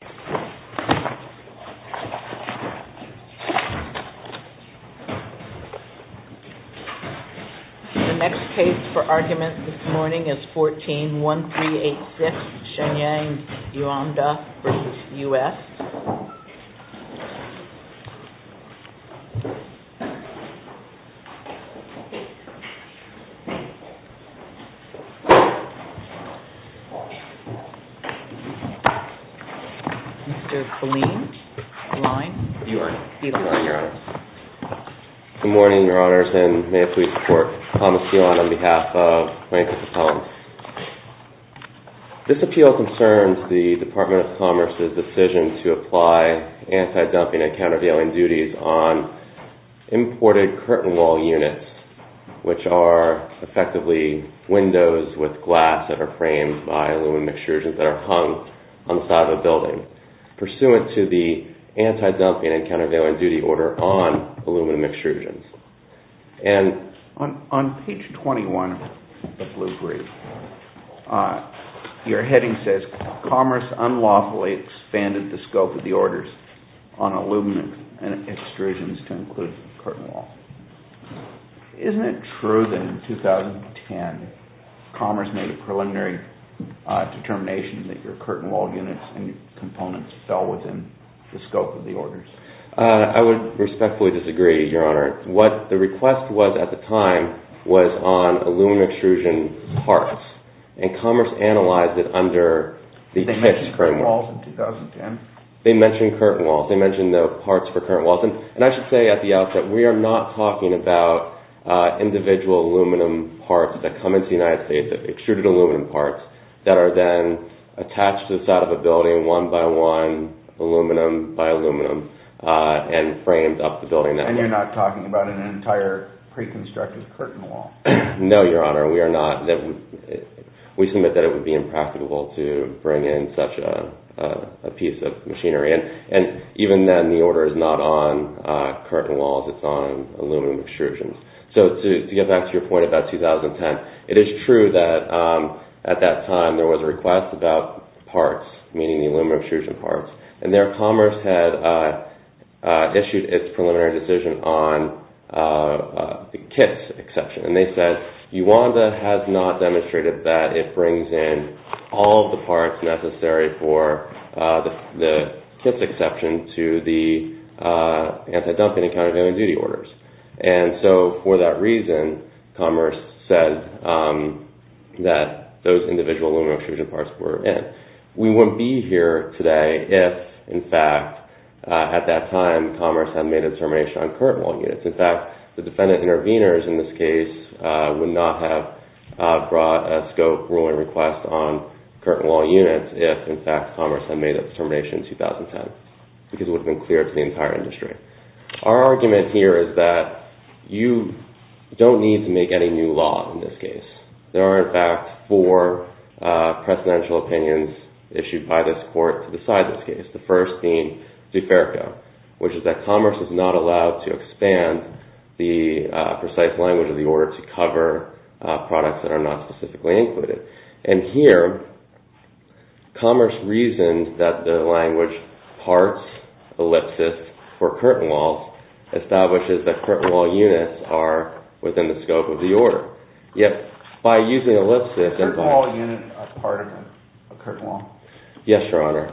The next case for argument this morning is 14-1386 Shenyang Yuanda v. U.S. This appeal concerns the Department of Commerce's decision to apply anti-dumping and countervailing duties on imported curtain wall units, which are effectively windows with glass that are pursuant to the anti-dumping and countervailing duty order on aluminum extrusions. On page 21 of the blue brief, your heading says, Commerce unlawfully expanded the scope of the orders on aluminum extrusions to include curtain wall. Isn't it true that in 2010 Commerce made a preliminary determination that your curtain wall units and components fell within the scope of the orders? I would respectfully disagree, Your Honor. What the request was at the time was on aluminum extrusion parts, and Commerce analyzed it under the pitch of curtain walls. They mentioned curtain walls in 2010? And I should say at the outset, we are not talking about individual aluminum parts that come into the United States, extruded aluminum parts that are then attached to the side of a building one by one, aluminum by aluminum, and framed up the building. And you're not talking about an entire pre-constructed curtain wall? No, Your Honor, we are not. We submit that it would be impracticable to bring in such a piece of machinery. And even then, the order is not on curtain walls. It's on aluminum extrusions. So to get back to your point about 2010, it is true that at that time there was a request about parts, meaning the aluminum extrusion parts, and there Commerce had issued its preliminary decision on the kits exception. And they said, UANDA has not demonstrated that it brings in all of the parts necessary for the kits exception to the anti-dumping and countervailing duty orders. And so for that reason, Commerce said that those individual aluminum extrusion parts were in. We wouldn't be here today if, in fact, at that time Commerce had made a determination on curtain wall units. In fact, the defendant intervenors in this case would not have brought a scope ruling request on curtain wall units if, in fact, Commerce had made a determination in 2010, because it would have been clear to the entire industry. Our argument here is that you don't need to make any new law in this case. There are, in fact, four precedential opinions issued by this court to decide this case, the first being DeFerrico, which is that Commerce is not allowed to expand the precise language of the order to cover products that are not specifically included. And here Commerce reasoned that the language parts, ellipsis, for curtain walls establishes that curtain wall units are within the scope of the order. Yet by using ellipsis… Curtain wall units are part of a curtain wall? Yes, Your Honor.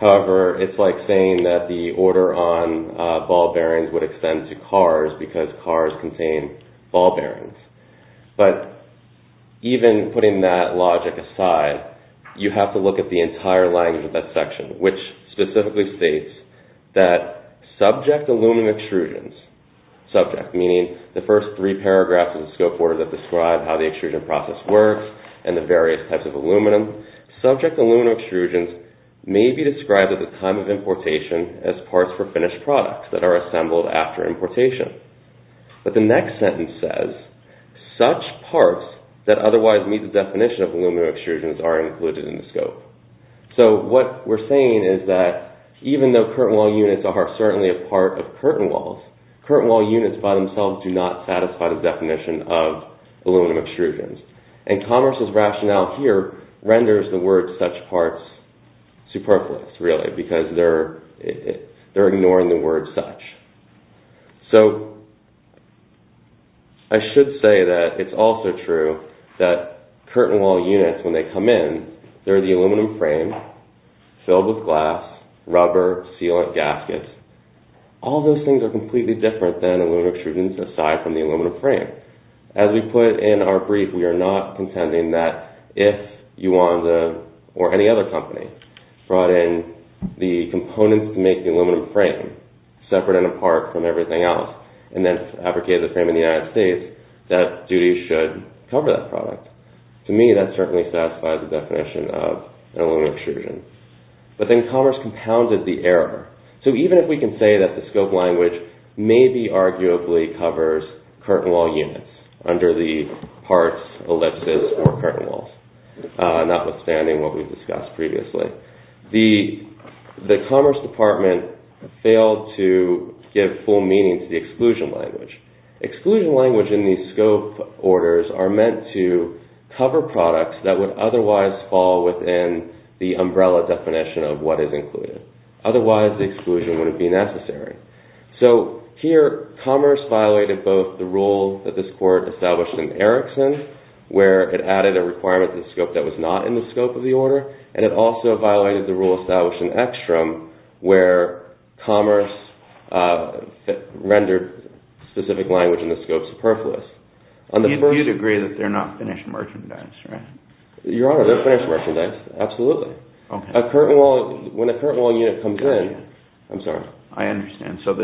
However, it's like saying that the order on ball bearings would extend to cars because cars contain ball bearings. But even putting that logic aside, you have to look at the entire language of that section, which specifically states that subject aluminum extrusions, subject, meaning the first three paragraphs of the scope order that describe how the extrusion process works and the various types of aluminum, subject aluminum extrusions may be described at the time of importation as parts for finished products that are assembled after importation. But the next sentence says, such parts that otherwise meet the definition of aluminum extrusions are included in the scope. So what we're saying is that even though curtain wall units are certainly a part of curtain walls, curtain wall units by themselves do not satisfy the definition of aluminum extrusions. And Congress' rationale here renders the word such parts superfluous, really, because they're ignoring the word such. So I should say that it's also true that curtain wall units, when they come in, they're the aluminum frame filled with glass, rubber, sealant, gaskets. All those things are completely different than aluminum extrusions aside from the aluminum frame. As we put in our brief, we are not contending that if Yuanda or any other company brought in the components to make the aluminum frame separate and apart from everything else and then abrogated the frame in the United States, that duties should cover that product. To me, that certainly satisfies the definition of an aluminum extrusion. But then Congress compounded the error. So even if we can say that the scope language maybe arguably covers curtain wall units under the parts, ellipses, or curtain walls, notwithstanding what we've discussed previously, the Commerce Department failed to give full meaning to the exclusion language. Exclusion language in these scope orders are meant to cover products that would otherwise fall within the umbrella definition of what is included. Otherwise, the exclusion wouldn't be necessary. So here, Commerce violated both the rule that this court established in Erickson, where it added a requirement to the scope that was not in the scope of the order, and it also violated the rule established in Ekstrom, where Commerce rendered specific language in the scope superfluous. You'd agree that they're not finished merchandise, right? Your Honor, they're finished merchandise, absolutely. When a curtain wall unit comes in... I'm sorry. I understand. So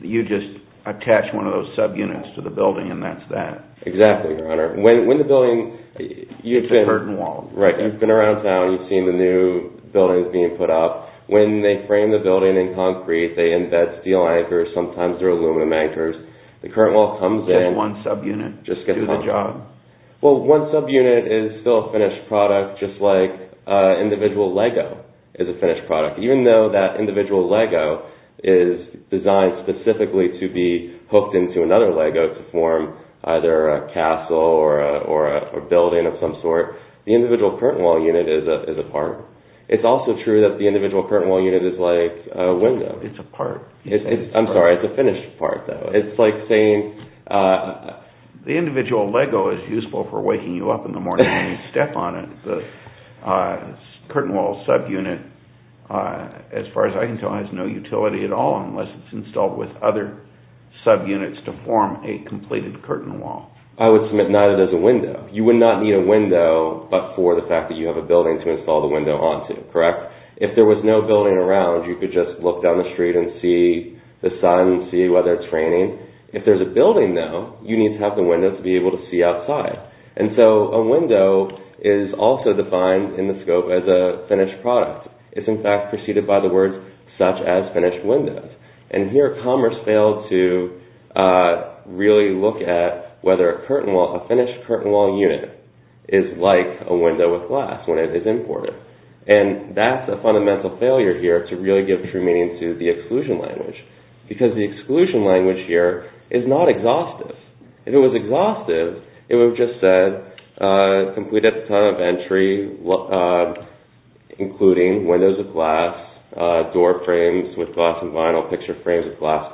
you just attach one of those subunits to the building and that's that. Exactly, Your Honor. It's a curtain wall. Right. You've been around town, you've seen the new buildings being put up. When they frame the building in concrete, they embed steel anchors, sometimes they're aluminum anchors. The curtain wall comes in... With one subunit? Just gets hung up. Do the job? Well, one subunit is still a finished product, just like individual Lego is a finished product. Even though that individual Lego is designed specifically to be hooked into another Lego to form either a castle or a building of some sort, the individual curtain wall unit is a part. It's also true that the individual curtain wall unit is like a window. It's a part. I'm sorry, it's a finished part, though. The individual Lego is useful for waking you up in the morning when you step on it. The curtain wall subunit, as far as I can tell, has no utility at all unless it's installed with other subunits to form a completed curtain wall. I would submit neither does a window. You would not need a window but for the fact that you have a building to install the window onto, correct? If there was no building around, you could just look down the street and see the sun, see whether it's raining. If there's a building, though, you need to have the window to be able to see outside. And so a window is also defined in the scope as a finished product. It's, in fact, preceded by the words such as finished windows. And here Commerce failed to really look at whether a finished curtain wall unit is like a window with glass when it is imported. And that's a fundamental failure here to really give true meaning to the exclusion language. Because the exclusion language here is not exhaustive. If it was exhaustive, it would have just said completed at the time of entry, including windows of glass, door frames with glass and vinyl, picture frames with glass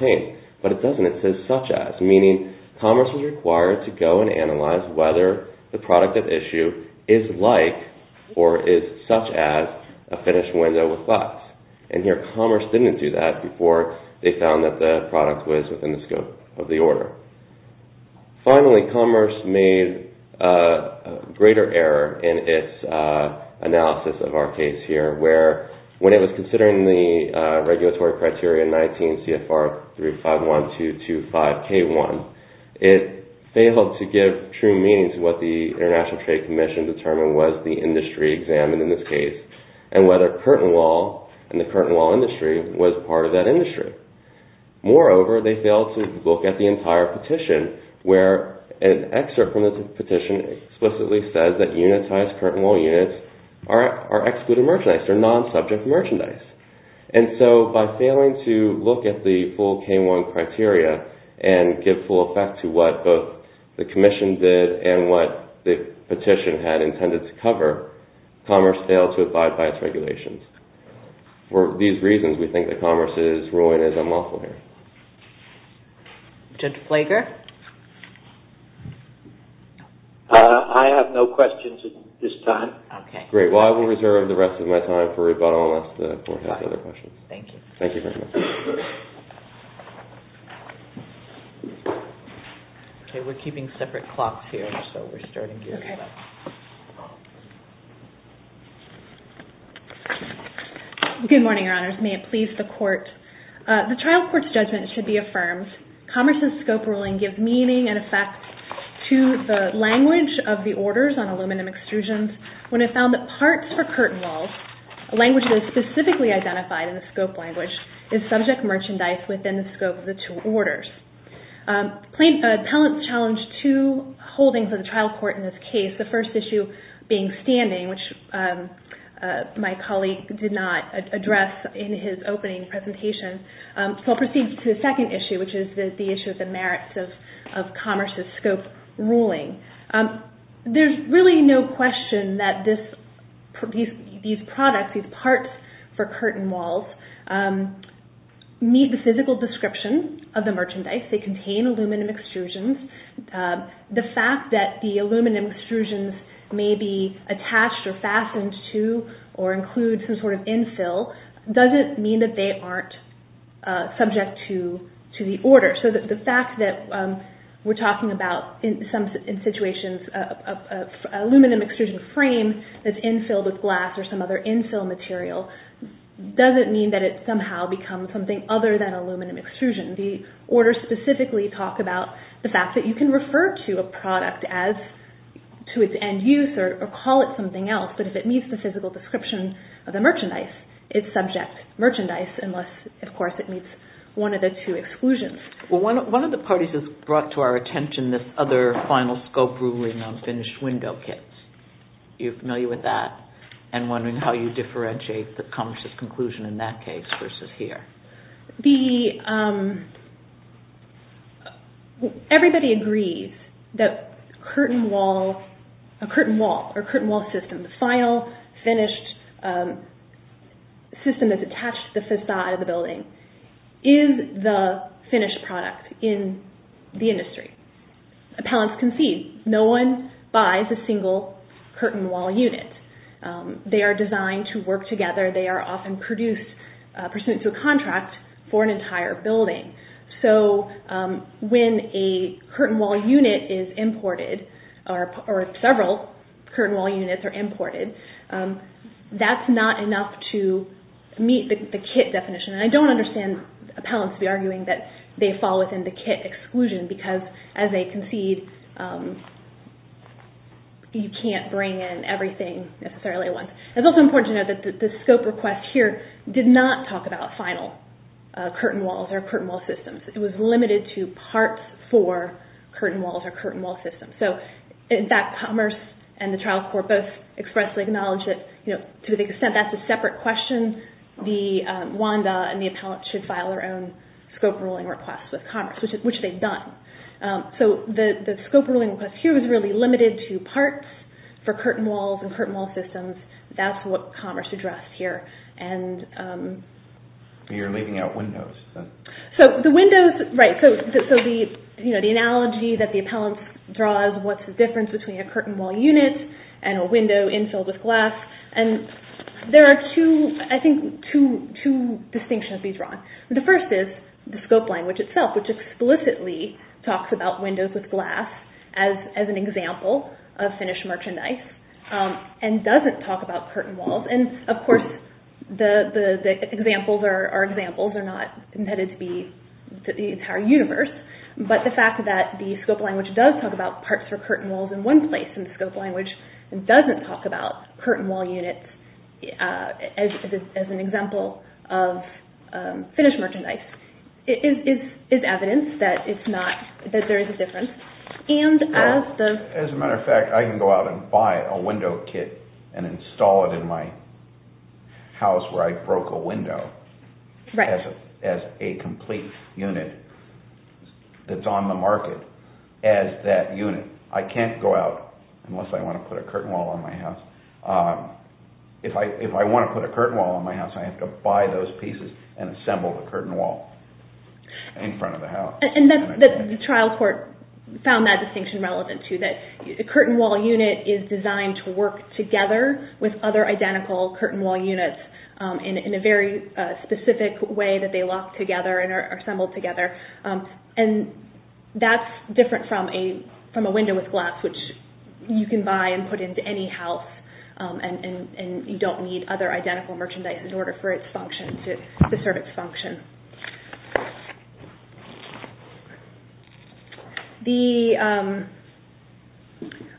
paint. But it doesn't. It says such as, meaning Commerce was required to go and analyze whether the product at issue is like or is such as a finished window with glass. And here Commerce didn't do that before they found that the product was within the scope of the order. Finally, Commerce made a greater error in its analysis of our case here where when it was considering the regulatory criteria 19 CFR 351225K1, it failed to give true meaning to what the International Trade Commission determined was the industry examined in this case and whether curtain wall and the curtain wall industry was part of that industry. Moreover, they failed to look at the entire petition where an excerpt from the petition explicitly says that unitized curtain wall units are excluded merchandise. They're non-subject merchandise. And so by failing to look at the full K1 criteria and give full effect to what both the commission did and what the petition had intended to cover, Commerce failed to abide by its regulations. For these reasons, we think that Commerce's ruling is unlawful here. Judge Flaker? I have no questions at this time. Okay. Great. Well, I will reserve the rest of my time for rebuttal unless the court has other questions. Thank you. Thank you very much. Okay, we're keeping separate clocks here, so we're starting here. Okay. Good morning, Your Honors. May it please the court. The trial court's judgment should be affirmed. Commerce's scope ruling gives meaning and effect to the language of the orders on aluminum extrusions when it found that parts for curtain walls, a language that is specifically identified in the scope language, is subject merchandise within the scope of the two orders. Appellants challenged two holdings of the trial court in this case, the first issue being standing, which my colleague did not address in his opening presentation. So I'll proceed to the second issue, which is the issue of the merits of Commerce's scope ruling. There's really no question that these products, these parts for curtain walls, meet the physical description of the merchandise. They contain aluminum extrusions. The fact that the aluminum extrusions may be attached or fastened to or include some sort of infill doesn't mean that they aren't subject to the order. So the fact that we're talking about in some situations an aluminum extrusion frame that's infilled with glass or some other infill material doesn't mean that it somehow becomes something other than aluminum extrusion. The orders specifically talk about the fact that you can refer to a product to its end use or call it something else, but if it meets the physical description of the merchandise, it's subject merchandise unless, of course, it meets one of the two exclusions. One of the parties has brought to our attention this other final scope ruling on finished window kits. Are you familiar with that and wondering how you differentiate the Commerce's conclusion in that case versus here? Everybody agrees that a curtain wall or curtain wall system, the final finished system that's attached to the facade of the building, is the finished product in the industry. Appellants concede no one buys a single curtain wall unit. They are designed to work together. They are often produced pursuant to a contract for an entire building. So when a curtain wall unit is imported or several curtain wall units are imported, that's not enough to meet the kit definition. I don't understand appellants to be arguing that they fall within the kit exclusion because as they concede you can't bring in everything necessarily at once. It's also important to note that the scope request here did not talk about final curtain walls or curtain wall systems. It was limited to parts for curtain walls or curtain wall systems. In fact, Commerce and the Trial Court both expressly acknowledge that to the extent that's a separate question, the WANDA and the appellant should file their own scope ruling request with Commerce, which they've done. So the scope ruling request here was really limited to parts for curtain walls and curtain wall systems. That's what Commerce addressed here. You're leaving out windows. The analogy that the appellant draws, what's the difference between a curtain wall unit and a window infilled with glass. There are two distinctions to be drawn. The first is the scope language itself, which explicitly talks about windows with glass as an example of finished merchandise and doesn't talk about curtain walls. Of course, the examples are examples. They're not intended to be the entire universe, but the fact that the scope language does talk about parts for curtain walls in one place and doesn't talk about curtain wall units as an example of finished merchandise is evidence that there is a difference. As a matter of fact, I can go out and buy a window kit and install it in my house where I broke a window as a complete unit that's on the market as that unit. I can't go out unless I want to put a curtain wall on my house. If I want to put a curtain wall on my house, I have to buy those pieces and assemble the curtain wall in front of the house. The trial court found that distinction relevant too, that a curtain wall unit is designed to work together with other identical curtain wall units in a very specific way that they lock together and are assembled together. That's different from a window with glass which you can buy and put into any house and you don't need other identical merchandise in order for it to serve its function. I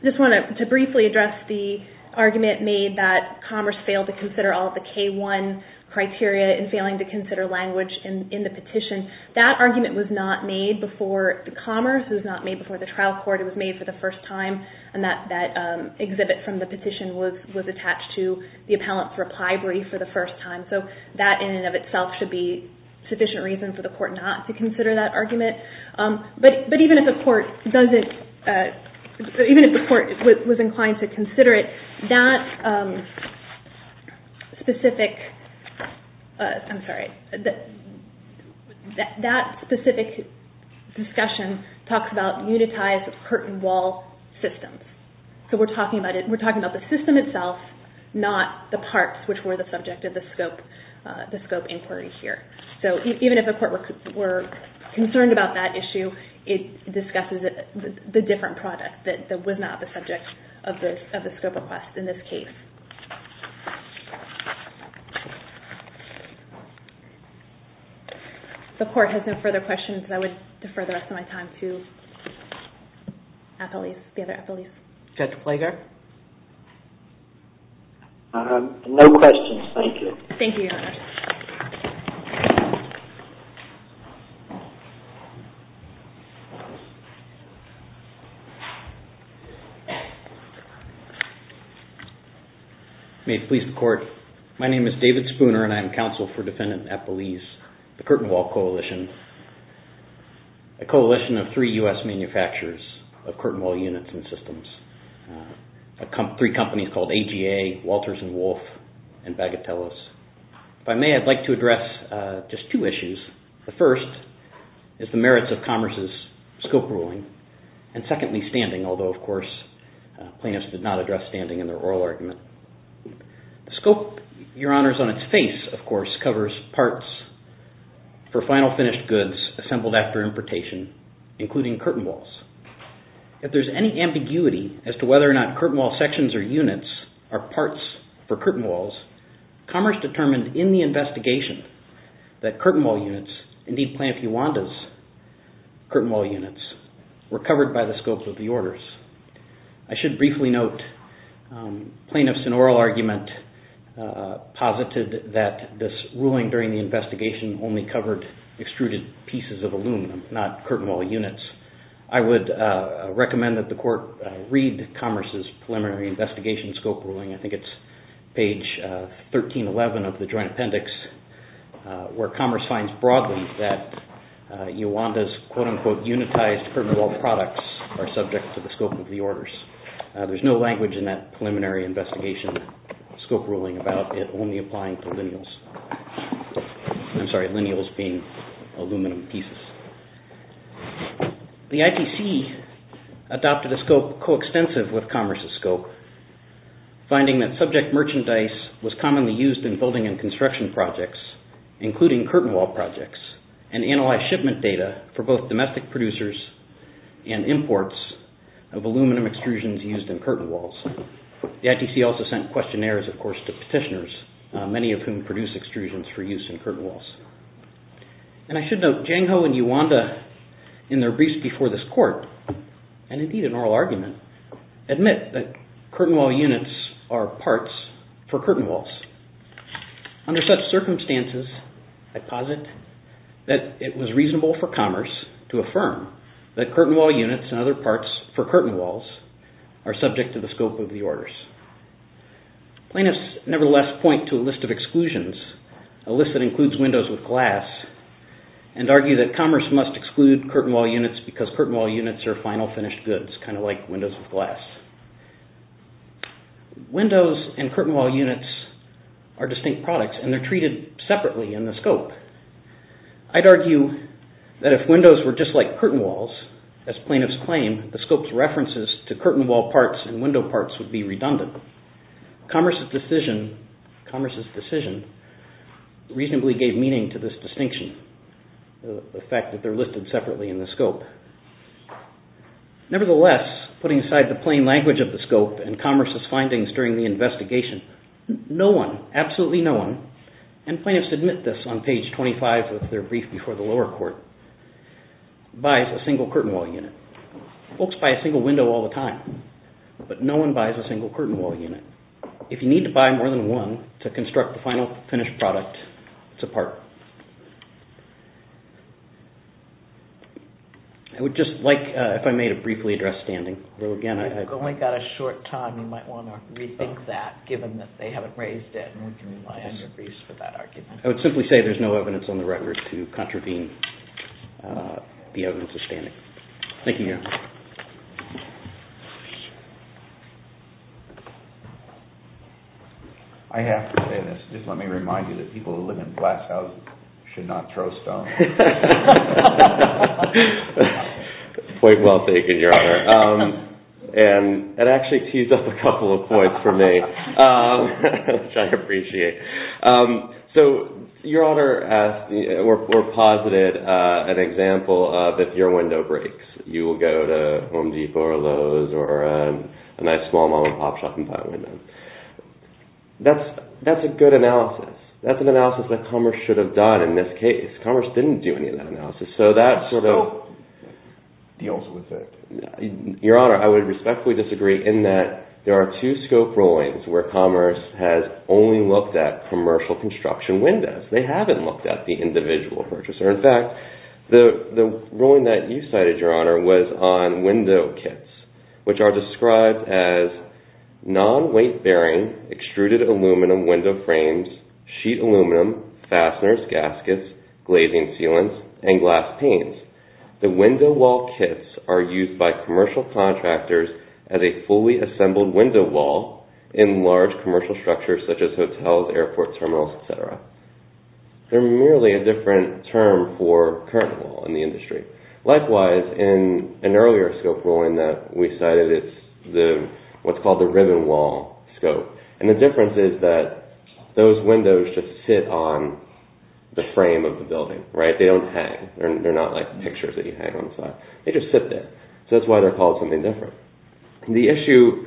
just want to briefly address the argument made that Commerce failed to consider all of the K-1 criteria and failing to consider language in the petition. That argument was not made before Commerce. It was not made before the trial court. It was made for the first time. That exhibit from the petition was attached to the appellant's reply brief for the first time. That in and of itself should be sufficient reason for the court not to consider that argument. Even if the court was inclined to consider it, that specific discussion talks about unitized curtain wall systems. We're talking about the system itself, not the parts which were the subject of the scope inquiry here. Even if the court were concerned about that issue, it discusses the different product that was not the subject of the scope request in this case. If the court has no further questions, I would defer the rest of my time to the other appellees. Judge Flager? No questions. Thank you. Thank you, Your Honor. May it please the court. My name is David Spooner and I am counsel for defendant Appelese, the Curtain Wall Coalition, a coalition of three U.S. manufacturers of curtain wall units and systems. Three companies called AGA, Walters and Wolf, and Bagatellos. If I may, I'd like to address just two issues. The first is the merits of Commerce's scope ruling, and secondly, standing, although, of course, plaintiffs did not address standing in their oral argument. The scope, Your Honor, is on its face, of course, covers parts for final finished goods assembled after importation, including curtain walls. If there's any ambiguity as to whether or not curtain wall sections or units are parts for curtain walls, Commerce determined in the investigation that curtain wall units, indeed Planned Pueblanda's curtain wall units, were covered by the scopes of the orders. I should briefly note, plaintiffs in oral argument posited that this ruling during the investigation only covered extruded pieces of aluminum, not curtain wall units. I would recommend that the Court read Commerce's Preliminary Investigation Scope Ruling. I think it's page 1311 of the Joint Appendix, where Commerce finds broadly that Iwanda's quote-unquote unitized curtain wall products are subject to the scope of the orders. There's no language in that Preliminary Investigation Scope Ruling about it only applying to lineals. I'm sorry, lineals being aluminum pieces. The ITC adopted a scope coextensive with Commerce's scope, finding that subject merchandise was commonly used in building and construction projects, including curtain wall projects, and analyzed shipment data for both domestic producers and imports of aluminum extrusions used in curtain walls. The ITC also sent questionnaires, of course, to petitioners, many of whom produced extrusions for use in curtain walls. And I should note, Jang Ho and Iwanda, in their briefs before this Court, and indeed in oral argument, admit that curtain wall units are parts for curtain walls. Under such circumstances, I posit that it was reasonable for Commerce to affirm that curtain wall units and other parts for curtain walls are subject to the scope of the orders. Plaintiffs, nevertheless, point to a list of exclusions, a list that includes windows with glass, and argue that Commerce must exclude curtain wall units because curtain wall units are final finished goods, kind of like windows with glass. Windows and curtain wall units are distinct products, and they're treated separately in the scope. I'd argue that if windows were just like curtain walls, as plaintiffs claim, the scope's references to curtain wall parts and window parts would be redundant. Commerce's decision reasonably gave meaning to this distinction, the fact that they're listed separately in the scope. Nevertheless, putting aside the plain language of the scope and Commerce's findings during the investigation, no one, absolutely no one, and plaintiffs admit this on page 25 of their brief before the lower court, buys a single curtain wall unit. Folks buy a single window all the time, but no one buys a single curtain wall unit. If you need to buy more than one to construct the final finished product, it's a part. I would just like, if I may, to briefly address standing. If you've only got a short time, you might want to rethink that, given that they haven't raised it. I would simply say there's no evidence on the record to contravene the evidence of standing. Thank you, Your Honor. I have to say this. Just let me remind you that people who live in glass houses should not throw stones. Point well taken, Your Honor. And it actually teased up a couple of points for me, which I appreciate. So Your Honor asked, or posited an example of if your window breaks, you will go to Home Depot or Lowe's or a nice small mom-and-pop shop and buy a window. That's a good analysis. That's an analysis that Commerce should have done in this case. Commerce didn't do any of that analysis, so that sort of deals with it. Your Honor, I would respectfully disagree in that there are two scope rulings where Commerce has only looked at commercial construction windows. They haven't looked at the individual purchaser. In fact, the ruling that you cited, Your Honor, was on window kits, which are described as non-weight-bearing, extruded aluminum window frames, sheet aluminum, fasteners, gaskets, glazing sealants, and glass panes. The window wall kits are used by commercial contractors as a fully assembled window wall in large commercial structures such as hotels, airport terminals, etc. They're merely a different term for curtain wall in the industry. Likewise, in an earlier scope ruling that we cited, it's what's called the ribbon wall scope. The difference is that those windows just sit on the frame of the building. They don't hang. They're not like pictures that you hang on the side. They just sit there. That's why they're called something different. The issue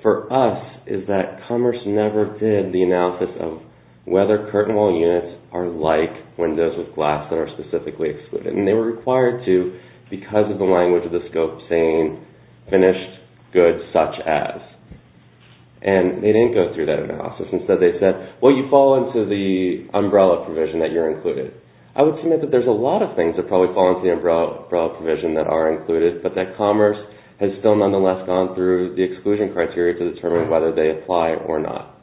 for us is that Commerce never did the analysis of whether curtain wall units are like windows with glass that are specifically excluded. They were required to, because of the language of the scope saying, finished goods such as. They didn't go through that analysis. Instead, they said, well, you fall into the umbrella provision that you're included. I would submit that there's a lot of things that probably fall into the umbrella provision that are included, but that Commerce has still, nonetheless, gone through the exclusion criteria to determine whether they apply or not.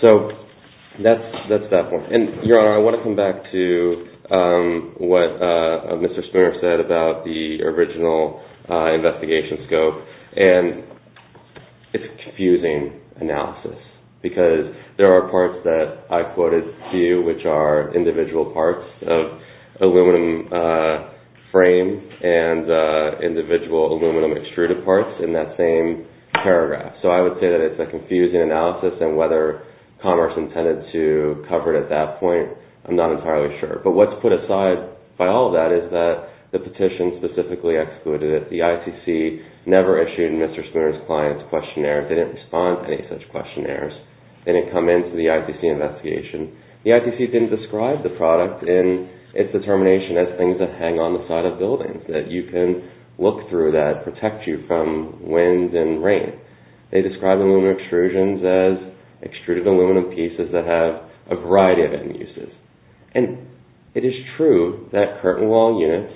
That's that point. Your Honor, I want to come back to what Mr. Spinner said about the original investigation scope. It's a confusing analysis because there are parts that I quoted to you, which are individual parts of aluminum frame and individual aluminum extruded parts in that same paragraph. So I would say that it's a confusing analysis, and whether Commerce intended to cover it at that point, I'm not entirely sure. But what's put aside by all of that is that the petition specifically excluded it. The ITC never issued Mr. Spinner's client's questionnaire. They didn't respond to any such questionnaires. They didn't come into the ITC investigation. The ITC didn't describe the product in its determination as things that hang on the side of buildings, that you can look through that protect you from winds and rain. They described aluminum extrusions as extruded aluminum pieces that have a variety of end uses. And it is true that curtain wall units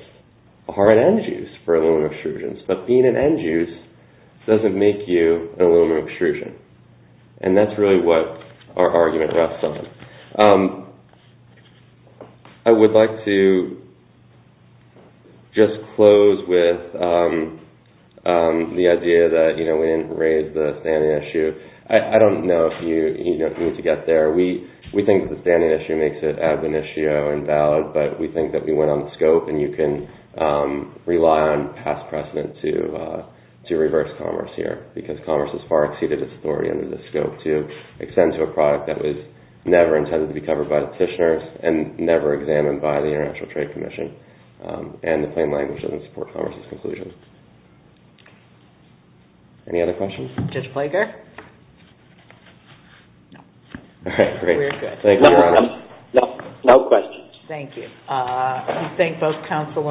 are an end use for aluminum extrusions, but being an end use doesn't make you an aluminum extrusion. And that's really what our argument rests on. I would like to just close with the idea that we didn't raise the standing issue. I don't know if you need to get there. We think the standing issue makes it ad venitio and valid, but we think that we went on the scope, and you can rely on past precedent to reverse Commerce here, because Commerce has far exceeded its authority under this scope to extend to a product that was never intended to be covered by the petitioners and never examined by the International Trade Commission. And the plain language doesn't support Commerce's conclusion. Any other questions? Judge Flaker? No. All right, great. Thank you, Your Honor. No questions. Thank you. I thank both counsel.